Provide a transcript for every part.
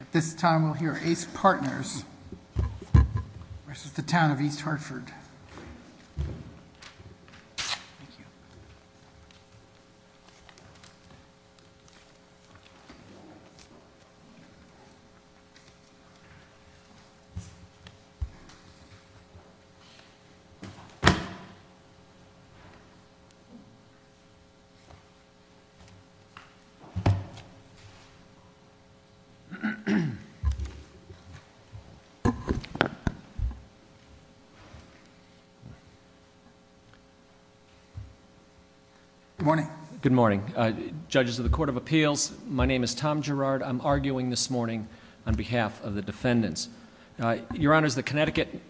At this time we'll hear Ace Partners v. The Town of East Hartford. Good morning. Good morning. Judges of the Court of Appeals, my name is Tom Girard. I'm arguing this morning on behalf of the defendants. Your Honors, the Connecticut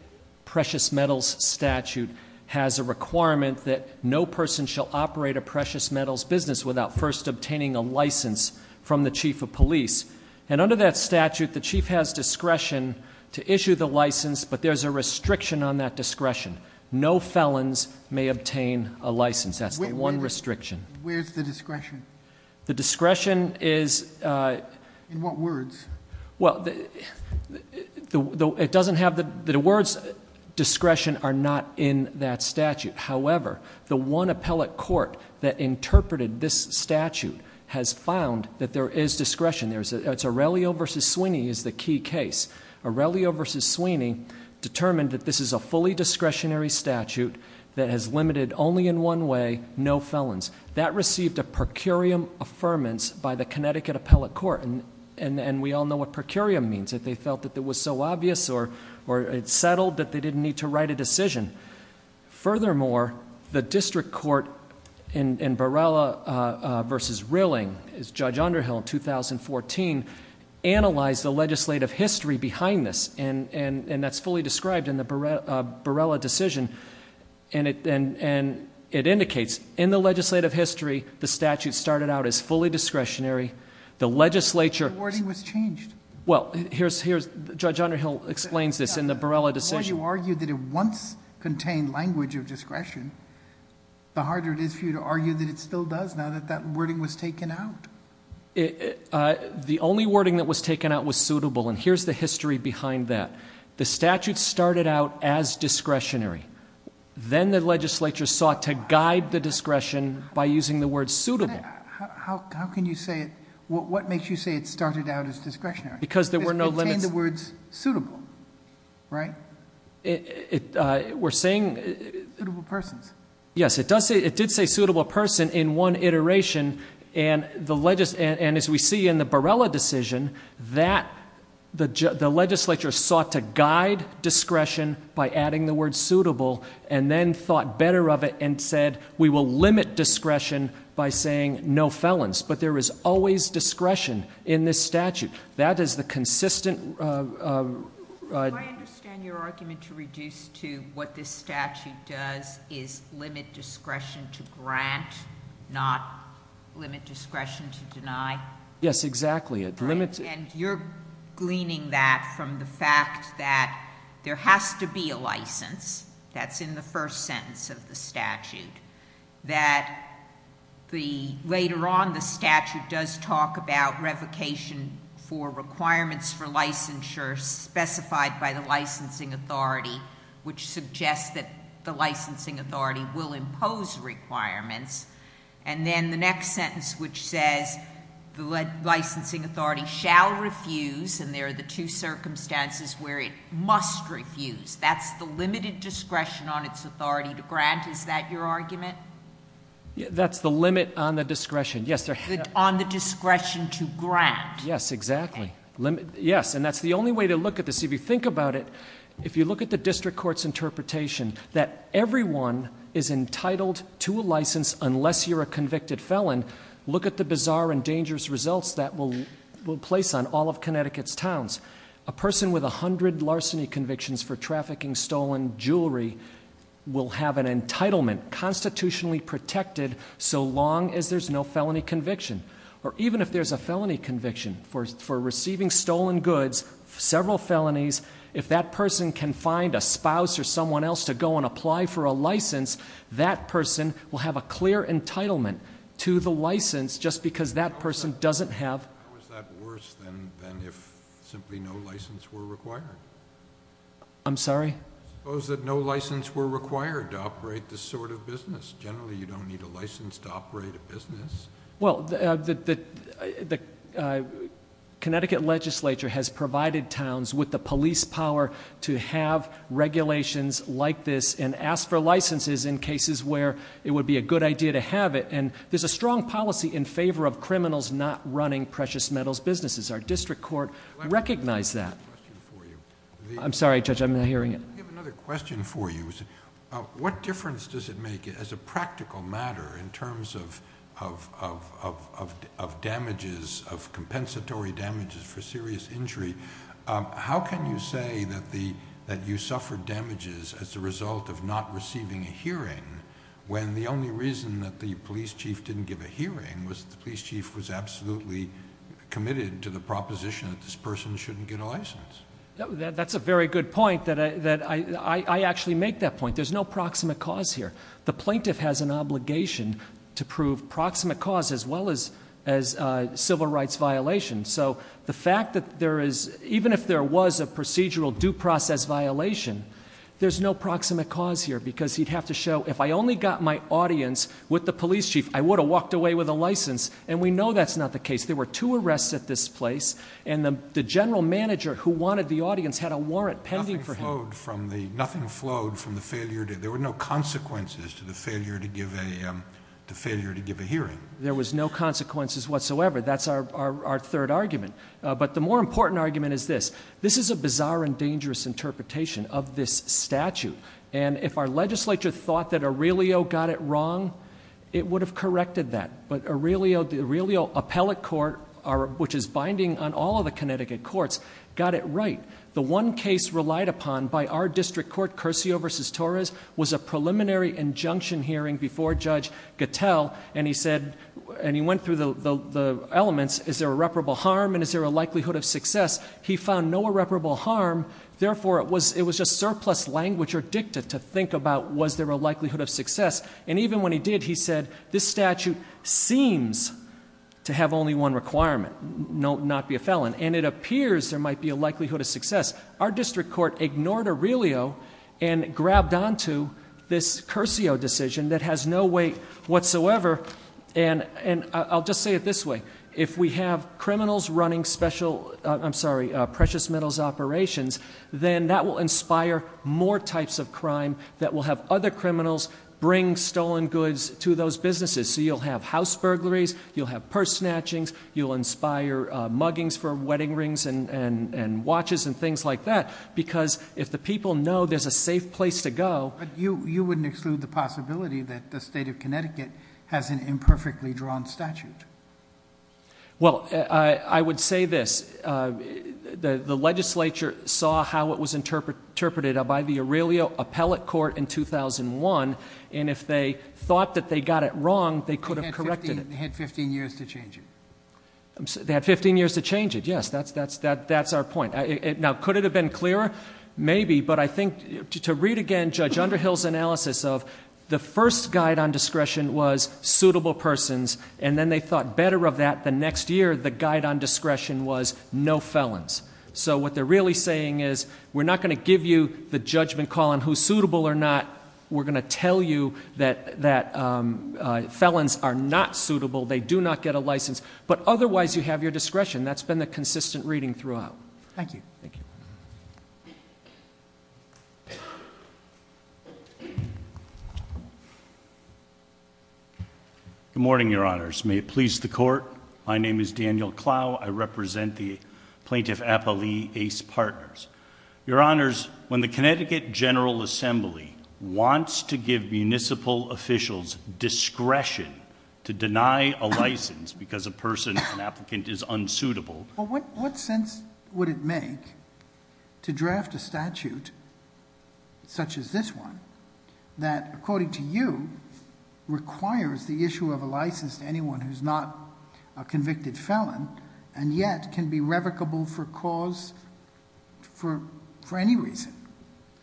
Precious Metals Statute has a requirement that no person shall operate a precious metals business without first obtaining a license from the Chief of Police. And under that statute, the Chief has discretion to issue the license, but there's a restriction on that discretion. No felons may obtain a license. That's the one restriction. Where's the discretion? The discretion is- In what words? Well, the words discretion are not in that statute. However, the one appellate court that interpreted this statute has found that there is discretion. It's Aurelio v. Sweeney is the key case. Aurelio v. Sweeney determined that this is a fully discretionary statute that has limited only in one way, no felons. That received a per curiam affirmance by the Connecticut Appellate Court. And we all know what per curiam means, that they felt that it was so obvious or it settled that they didn't need to write a decision. Furthermore, the district court in Barrella versus Rilling, as Judge Underhill in 2014, analyzed the legislative history behind this. And that's fully described in the Barrella decision. And it indicates in the legislative history, the statute started out as fully discretionary. The legislature- The wording was changed. Well, Judge Underhill explains this in the Barrella decision. Before you argued that it once contained language of discretion, the harder it is for you to argue that it still does now that that wording was taken out. The only wording that was taken out was suitable, and here's the history behind that. The statute started out as discretionary. Then the legislature sought to guide the discretion by using the word suitable. How can you say it, what makes you say it started out as discretionary? Because there were no limits. It contained the words suitable, right? We're saying- Suitable persons. Yes, it did say suitable person in one iteration. And as we see in the Barrella decision, that the legislature sought to guide discretion by adding the word suitable. And then thought better of it and said, we will limit discretion by saying no felons. But there is always discretion in this statute. That is the consistent- I understand your argument to reduce to what this statute does is limit discretion to grant, not limit discretion to deny. Yes, exactly. It limits- And you're gleaning that from the fact that there has to be a license. That's in the first sentence of the statute. That the, later on the statute does talk about revocation for requirements for licensure specified by the licensing authority. Which suggests that the licensing authority will impose requirements. And then the next sentence which says, the licensing authority shall refuse. And there are the two circumstances where it must refuse. That's the limited discretion on its authority to grant. Is that your argument? That's the limit on the discretion, yes. On the discretion to grant. Yes, exactly. Yes, and that's the only way to look at this. If you think about it, if you look at the district court's interpretation that everyone is entitled to a license unless you're a convicted felon, look at the bizarre and dangerous results that will place on all of Connecticut's towns. A person with 100 larceny convictions for trafficking stolen jewelry will have an entitlement constitutionally protected so long as there's no felony conviction. Or even if there's a felony conviction for receiving stolen goods, several felonies. If that person can find a spouse or someone else to go and apply for a license, that person will have a clear entitlement to the license just because that person doesn't have- Actually, no license were required. I'm sorry? Suppose that no license were required to operate this sort of business. Generally, you don't need a license to operate a business. Well, the Connecticut legislature has provided towns with the police power to have regulations like this and ask for licenses in cases where it would be a good idea to have it. And there's a strong policy in favor of criminals not running precious metals businesses. Our district court recognized that. I'm sorry, Judge, I'm not hearing it. I have another question for you. What difference does it make as a practical matter in terms of damages, of compensatory damages for serious injury? How can you say that you suffered damages as a result of not receiving a hearing when the only reason that the police chief didn't give a hearing was the police chief was absolutely committed to the proposition that this person shouldn't get a license? That's a very good point, that I actually make that point. There's no proximate cause here. The plaintiff has an obligation to prove proximate cause as well as civil rights violation. So the fact that there is, even if there was a procedural due process violation, there's no proximate cause here because he'd have to show, if I only got my audience with the police chief, I would have walked away with a license. And we know that's not the case. There were two arrests at this place, and the general manager who wanted the audience had a warrant pending for him. Nothing flowed from the failure, there were no consequences to the failure to give a hearing. There was no consequences whatsoever, that's our third argument. But the more important argument is this, this is a bizarre and dangerous interpretation of this statute. And if our legislature thought that Aurelio got it wrong, it would have corrected that. But Aurelio Appellate Court, which is binding on all of the Connecticut courts, got it right. The one case relied upon by our district court, Curcio versus Torres, was a preliminary injunction hearing before Judge Gattell, and he said, and was there a likelihood of success, he found no irreparable harm. Therefore, it was just surplus language or dicta to think about, was there a likelihood of success? And even when he did, he said, this statute seems to have only one requirement, not be a felon. And it appears there might be a likelihood of success. Our district court ignored Aurelio and grabbed onto this Curcio decision that has no weight whatsoever. And I'll just say it this way, if we have criminals running special, I'm sorry, precious metals operations, then that will inspire more types of crime that will have other criminals bring stolen goods to those businesses. So you'll have house burglaries, you'll have purse snatchings, you'll inspire muggings for wedding rings and watches and things like that, because if the people know there's a safe place to go- As an imperfectly drawn statute. Well, I would say this, the legislature saw how it was interpreted by the Aurelio Appellate Court in 2001. And if they thought that they got it wrong, they could have corrected it. They had 15 years to change it. They had 15 years to change it, yes, that's our point. Now, could it have been clearer? Maybe, but I think, to read again Judge Underhill's analysis of the first guide on discretion was suitable persons, and then they thought better of that the next year, the guide on discretion was no felons. So what they're really saying is, we're not going to give you the judgment call on who's suitable or not. We're going to tell you that felons are not suitable, they do not get a license, but otherwise you have your discretion. That's been the consistent reading throughout. Thank you. Good morning, your honors. May it please the court. My name is Daniel Clow, I represent the Plaintiff Appellee Ace Partners. Your honors, when the Connecticut General Assembly wants to give municipal officials discretion to deny a license because a person, an applicant, is unsuitable. Well, what sense would it make to draft a statute such as this one, that according to you, requires the issue of a license to anyone who's not a convicted felon, and yet can be revocable for cause, for any reason?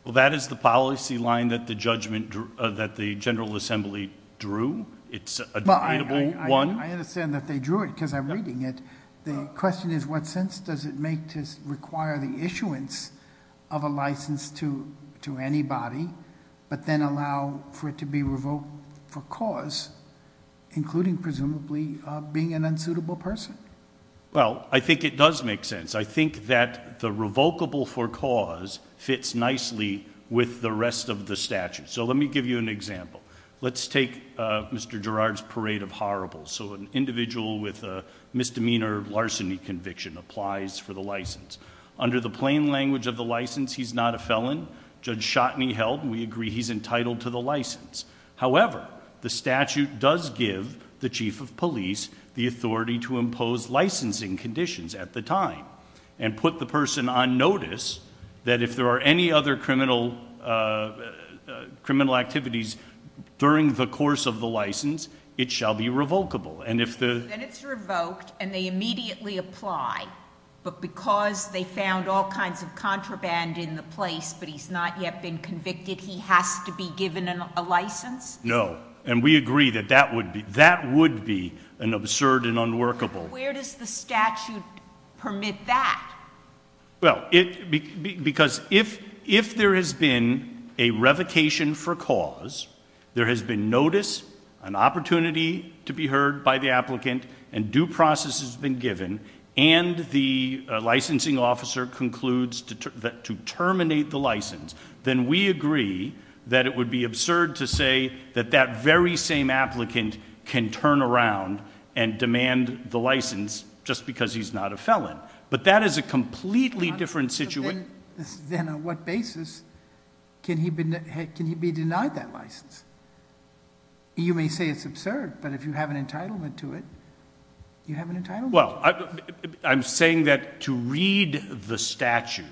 Well, that is the policy line that the general assembly drew. It's a debatable one. I understand that they drew it, because I'm reading it. The question is, what sense does it make to require the issuance of a license to anybody, but then allow for it to be revoked for cause, including presumably being an unsuitable person? Well, I think it does make sense. I think that the revocable for cause fits nicely with the rest of the statute. So let me give you an example. Let's take Mr. Gerard's parade of horribles. So an individual with a misdemeanor larceny conviction applies for the license. Under the plain language of the license, he's not a felon. Judge Shotney held, and we agree, he's entitled to the license. However, the statute does give the chief of police the authority to impose licensing conditions at the time. And put the person on notice that if there are any other criminal activities during the course of the license, it shall be revocable. And if the- Then it's revoked, and they immediately apply. But because they found all kinds of contraband in the place, but he's not yet been convicted, he has to be given a license? No, and we agree that that would be an absurd and unworkable. Where does the statute permit that? Well, because if there has been a revocation for cause, there has been notice, an opportunity to be heard by the applicant, and due process has been given. And the licensing officer concludes to terminate the license, then we agree that it would be absurd to say that that very same applicant can turn around and demand the license just because he's not a felon. But that is a completely different situation. Then on what basis can he be denied that license? You may say it's absurd, but if you have an entitlement to it, you have an entitlement. Well, I'm saying that to read the statute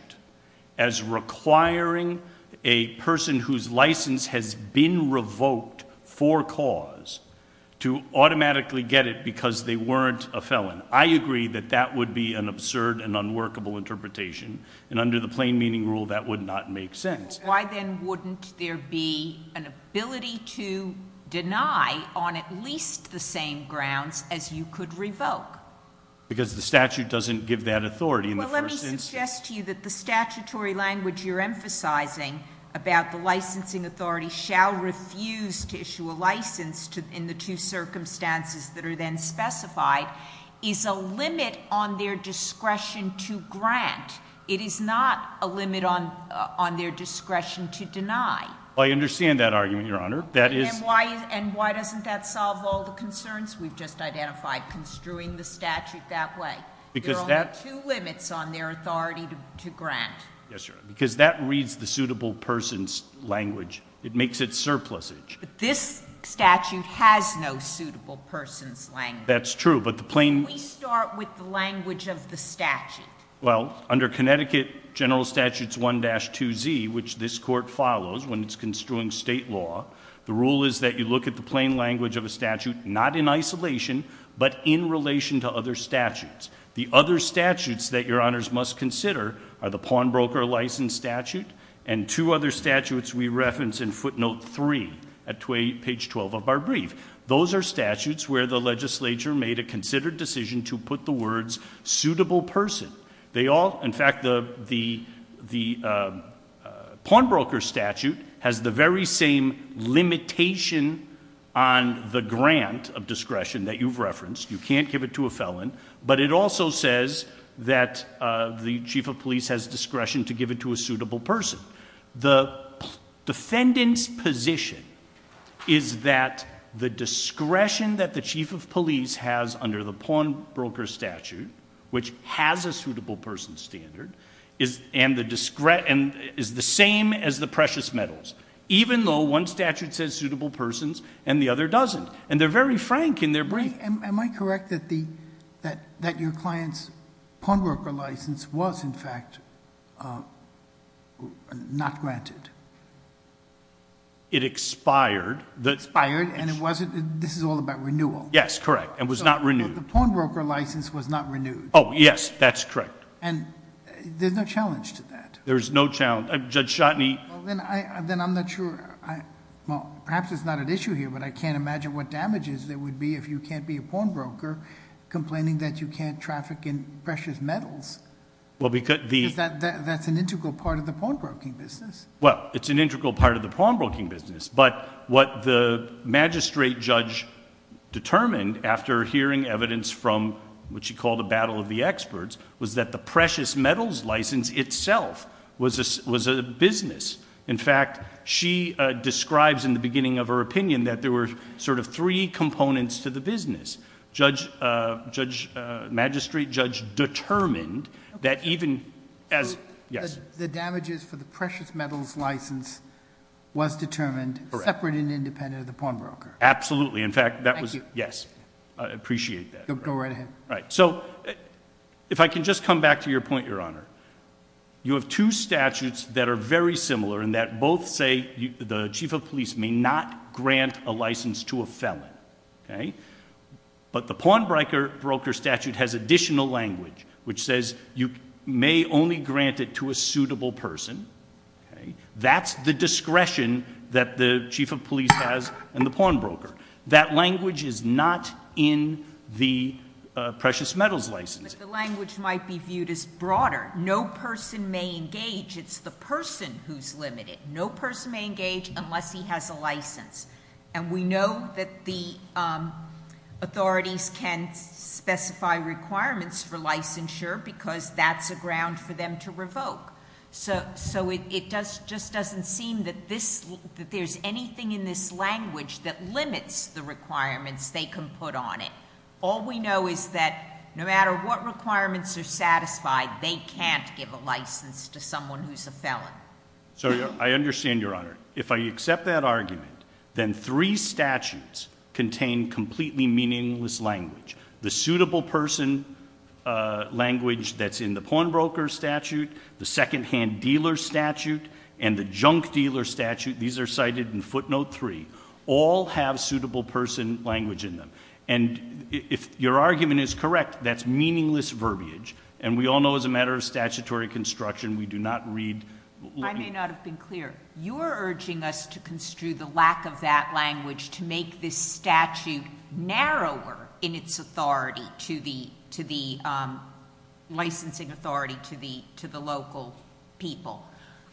as requiring a person whose license has been revoked for cause to automatically get it because they weren't a felon. I agree that that would be an absurd and unworkable interpretation, and under the plain meaning rule, that would not make sense. Why then wouldn't there be an ability to deny on at least the same grounds as you could revoke? Because the statute doesn't give that authority in the first instance. Well, let me suggest to you that the statutory language you're emphasizing about the licensing authority shall refuse to issue a license in the two circumstances that are then specified. Is a limit on their discretion to grant. It is not a limit on their discretion to deny. Well, I understand that argument, Your Honor. That is- And why doesn't that solve all the concerns we've just identified construing the statute that way? Because that- There are only two limits on their authority to grant. Yes, Your Honor, because that reads the suitable person's language. It makes it surplusage. But this statute has no suitable person's language. That's true, but the plain- Can we start with the language of the statute? Well, under Connecticut General Statutes 1-2Z, which this court follows when it's construing state law, the rule is that you look at the plain language of a statute, not in isolation, but in relation to other statutes. The other statutes that Your Honors must consider are the pawnbroker license statute, and two other statutes we reference in footnote three at page 12 of our brief. Those are statutes where the legislature made a considered decision to put the words suitable person. They all, in fact, the pawnbroker statute has the very same limitation on the grant of discretion that you've referenced. You can't give it to a felon, but it also says that the chief of police has discretion to give it to a suitable person. The defendant's position is that the discretion that the chief of police has under the pawnbroker statute, which has a suitable person standard, is the same as the precious metals. Even though one statute says suitable persons and the other doesn't. And they're very frank in their brief. Am I correct that your client's pawnbroker license was, in fact, not granted? It expired. It expired and it wasn't, this is all about renewal. Yes, correct. It was not renewed. The pawnbroker license was not renewed. Yes, that's correct. And there's no challenge to that. There's no challenge. Judge Shotney. Then I'm not sure, well, perhaps it's not an issue here, but I can't imagine what damages there would be if you can't be a pawnbroker complaining that you can't traffic in precious metals. Well, because the- That's an integral part of the pawnbroking business. Well, it's an integral part of the pawnbroking business, but what the magistrate judge determined after hearing evidence from what she called a battle of the experts was that the precious metals license itself was a business. In fact, she describes in the beginning of her opinion that there were sort of three components to the business. Judge, magistrate judge determined that even as, yes. The damages for the precious metals license was determined separate and independent of the pawnbroker. Absolutely. In fact, that was- Yes. I appreciate that. Go right ahead. All right, so if I can just come back to your point, your honor. You have two statutes that are very similar in that both say the chief of police may not grant a license to a felon, okay? But the pawnbroker statute has additional language, which says you may only grant it to a suitable person, okay? That's the discretion that the chief of police has in the pawnbroker. That language is not in the precious metals license. But the language might be viewed as broader. No person may engage, it's the person who's limited. No person may engage unless he has a license. And we know that the authorities can specify requirements for licensure because that's a ground for them to revoke. So it just doesn't seem that there's anything in this language that limits the requirements they can put on it. All we know is that no matter what requirements are satisfied, they can't give a license to someone who's a felon. So I understand your honor. If I accept that argument, then three statutes contain completely meaningless language. The suitable person language that's in the pawnbroker statute, the second hand dealer statute, and the junk dealer statute, these are cited in footnote three. All have suitable person language in them. And if your argument is correct, that's meaningless verbiage. And we all know as a matter of statutory construction, we do not read- I may not have been clear. You are urging us to construe the lack of that language to make this statute narrower in its authority to the licensing authority to the local people.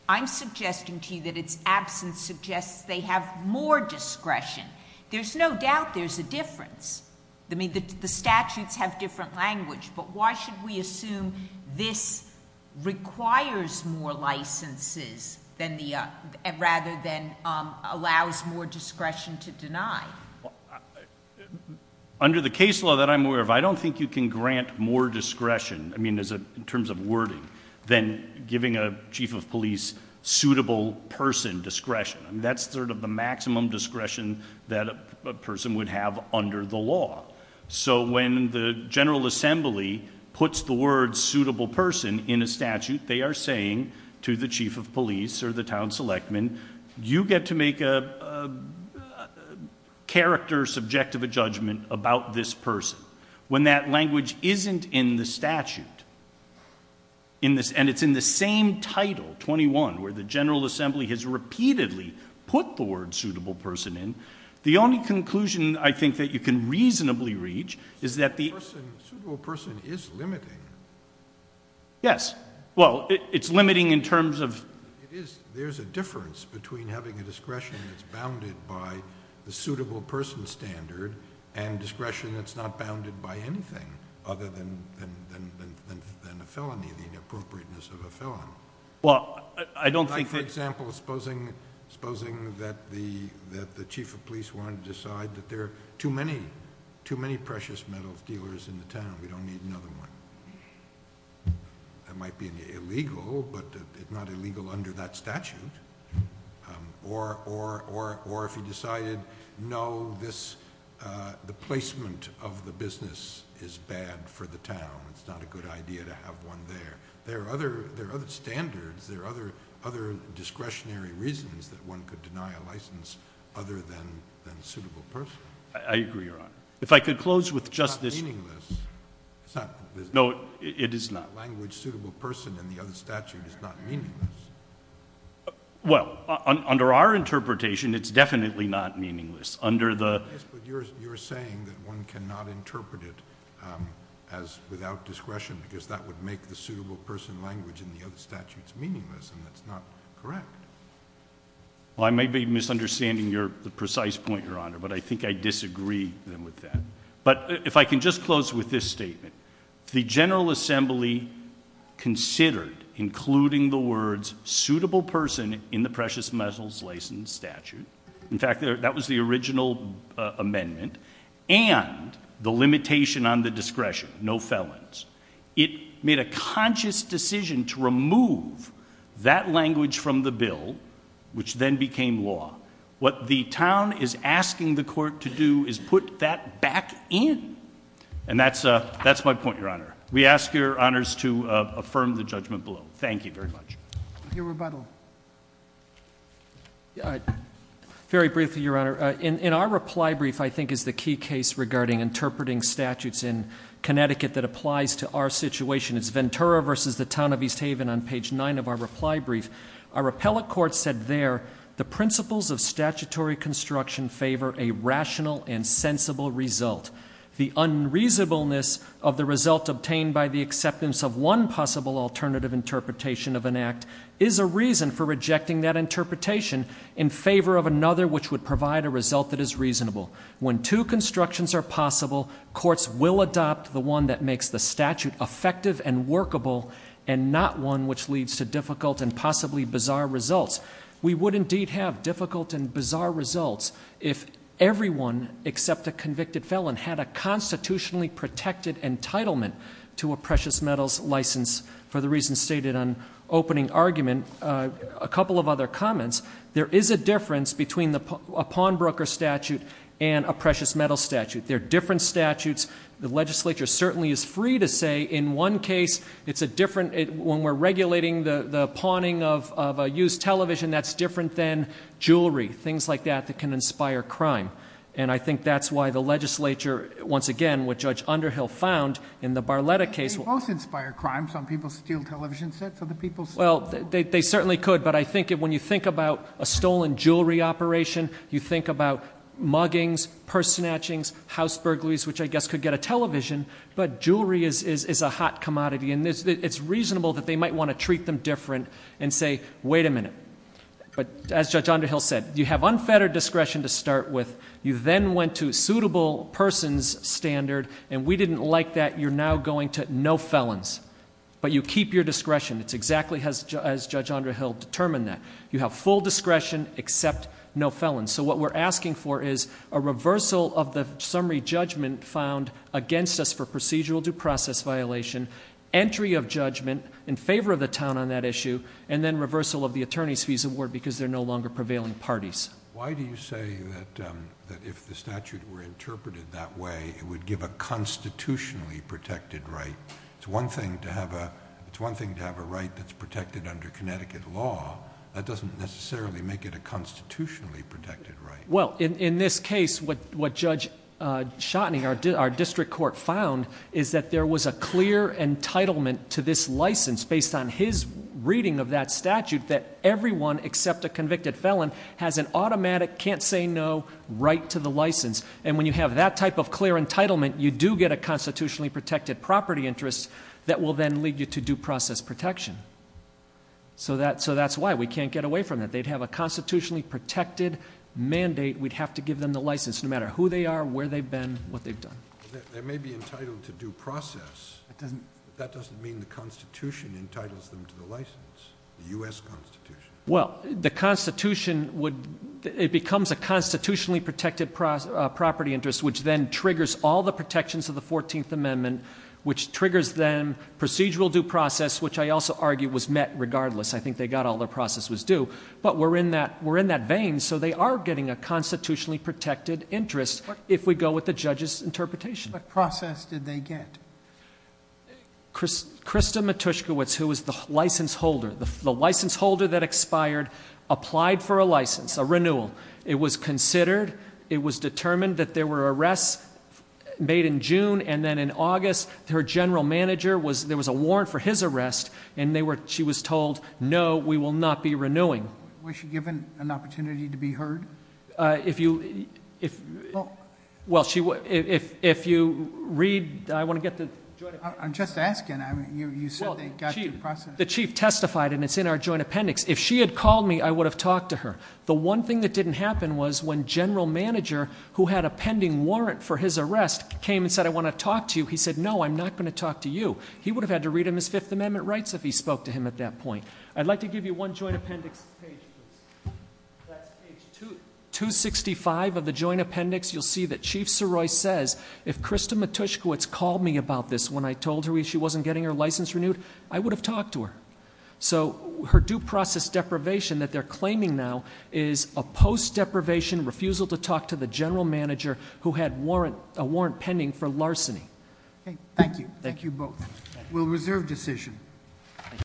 I'm suggesting to you that its absence suggests they have more discretion. There's no doubt there's a difference. I mean, the statutes have different language, but why should we assume this requires more licenses rather than allows more discretion to deny? Under the case law that I'm aware of, I don't think you can grant more discretion, I mean, in terms of wording, than giving a chief of police suitable person discretion. That's sort of the maximum discretion that a person would have under the law. So when the General Assembly puts the word suitable person in a statute, they are saying to the chief of police or the town selectman, you get to make a character subjective judgment about this person. When that language isn't in the statute, and it's in the same title, 21, where the General Assembly has repeatedly put the word suitable person in, the only conclusion I think that you can reasonably reach is that the- Suitable person is limiting. Yes. Well, it's limiting in terms of- There's a difference between having a discretion that's bounded by the suitable person standard and discretion that's not bounded by anything other than a felony, the inappropriateness of a felony. Well, I don't think- Like, for example, supposing that the chief of police wanted to decide that there are too many precious metals dealers in the town, we don't need another one. That might be illegal, but it's not illegal under that statute. Or if he decided, no, the placement of the business is bad for the town, it's not a good idea to have one there. There are other standards, there are other discretionary reasons that one could deny a license other than suitable person. I agree, Your Honor. If I could close with just this- It's not meaningless. It's not the business. It is not. Language suitable person in the other statute is not meaningless. Well, under our interpretation, it's definitely not meaningless. Yes, but you're saying that one cannot interpret it as without discretion because that would make the suitable person language in the other statutes meaningless and that's not correct. Well, I may be misunderstanding the precise point, Your Honor, but I think I disagree with that. But if I can just close with this statement. The General Assembly considered including the words suitable person in the precious metals license statute. In fact, that was the original amendment and the limitation on the discretion, no felons. It made a conscious decision to remove that language from the bill, which then became law. What the town is asking the court to do is put that back in. And that's my point, Your Honor. We ask your honors to affirm the judgment below. Thank you very much. I'll hear rebuttal. Very briefly, Your Honor. In our reply brief, I think is the key case regarding interpreting statutes in Connecticut that applies to our situation. It's Ventura versus the town of East Haven on page nine of our reply brief. Our appellate court said there, the principles of statutory construction favor a rational and sensible result. The unreasonableness of the result obtained by the acceptance of one possible alternative interpretation of an act is a reason for rejecting that interpretation in favor of another which would provide a result that is reasonable. When two constructions are possible, courts will adopt the one that makes the statute effective and workable and not one which leads to difficult and possibly bizarre results. We would indeed have difficult and bizarre results if everyone except a convicted felon had a constitutionally protected entitlement to a precious metals license for the reasons stated on opening argument. A couple of other comments. There is a difference between a pawnbroker statute and a precious metals statute. They're different statutes. The legislature certainly is free to say in one case, it's a different, when we're regulating the pawning of a used television, that's different than jewelry, things like that that can inspire crime. And I think that's why the legislature, once again, what Judge Underhill found in the Barletta case- They both inspire crime. Some people steal television sets, other people steal- Well, they certainly could. But I think when you think about a stolen jewelry operation, you think about muggings, purse snatchings, house burglaries, which I guess could get a television. But jewelry is a hot commodity. And it's reasonable that they might want to treat them different and say, wait a minute. But as Judge Underhill said, you have unfettered discretion to start with. You then went to suitable person's standard. And we didn't like that. You're now going to no felons. But you keep your discretion. It's exactly as Judge Underhill determined that. You have full discretion except no felons. So what we're asking for is a reversal of the summary judgment found against us for procedural due process violation, entry of judgment in favor of the town on that issue, and then reversal of the attorney's fees award because they're no longer prevailing parties. Why do you say that if the statute were interpreted that way, it would give a constitutionally protected right? It's one thing to have a right that's protected under Connecticut law. That doesn't necessarily make it a constitutionally protected right. Well, in this case, what Judge Schottening, our district court, found is that there was a clear entitlement to this license based on his reading of that statute that everyone except a convicted felon has an automatic can't say no right to the license. And when you have that type of clear entitlement, you do get a constitutionally protected property interest that will then lead you to due process protection. So that's why we can't get away from that. They'd have a constitutionally protected mandate. We'd have to give them the license no matter who they are, where they've been, what they've done. They may be entitled to due process, but that doesn't mean the Constitution entitles them to the license, the U.S. Constitution. Well, it becomes a constitutionally protected property interest, which then triggers all the protections of the 14th Amendment, which triggers then procedural due process, which I also argue was met regardless. I think they got all their process was due. But we're in that vein, so they are getting a constitutionally protected interest if we go with the judge's interpretation. What process did they get? Krista Matuszkiewicz, who was the license holder, the license holder that expired, applied for a license, a renewal. It was considered, it was determined that there were arrests made in June, and then in August, her general manager, there was a warrant for his arrest, and she was told, no, we will not be renewing. Was she given an opportunity to be heard? Well, if you read, I want to get the joint appendix. I'm just asking. I mean, you said they got due process. The chief testified, and it's in our joint appendix. If she had called me, I would have talked to her. The one thing that didn't happen was when general manager, who had a pending warrant for his arrest, came and said, I want to talk to you. He said, no, I'm not going to talk to you. He would have had to read him his Fifth Amendment rights if he spoke to him at that point. I'd like to give you one joint appendix page, please. That's page 265 of the joint appendix. You'll see that Chief Saroy says, if Krista Matuszkiewicz called me about this when I told her she wasn't getting her license renewed, I would have talked to her. So her due process deprivation that they're claiming now is a post-deprivation refusal to talk to the general manager who had a warrant pending for larceny. Thank you. Thank you both. We'll reserve decision.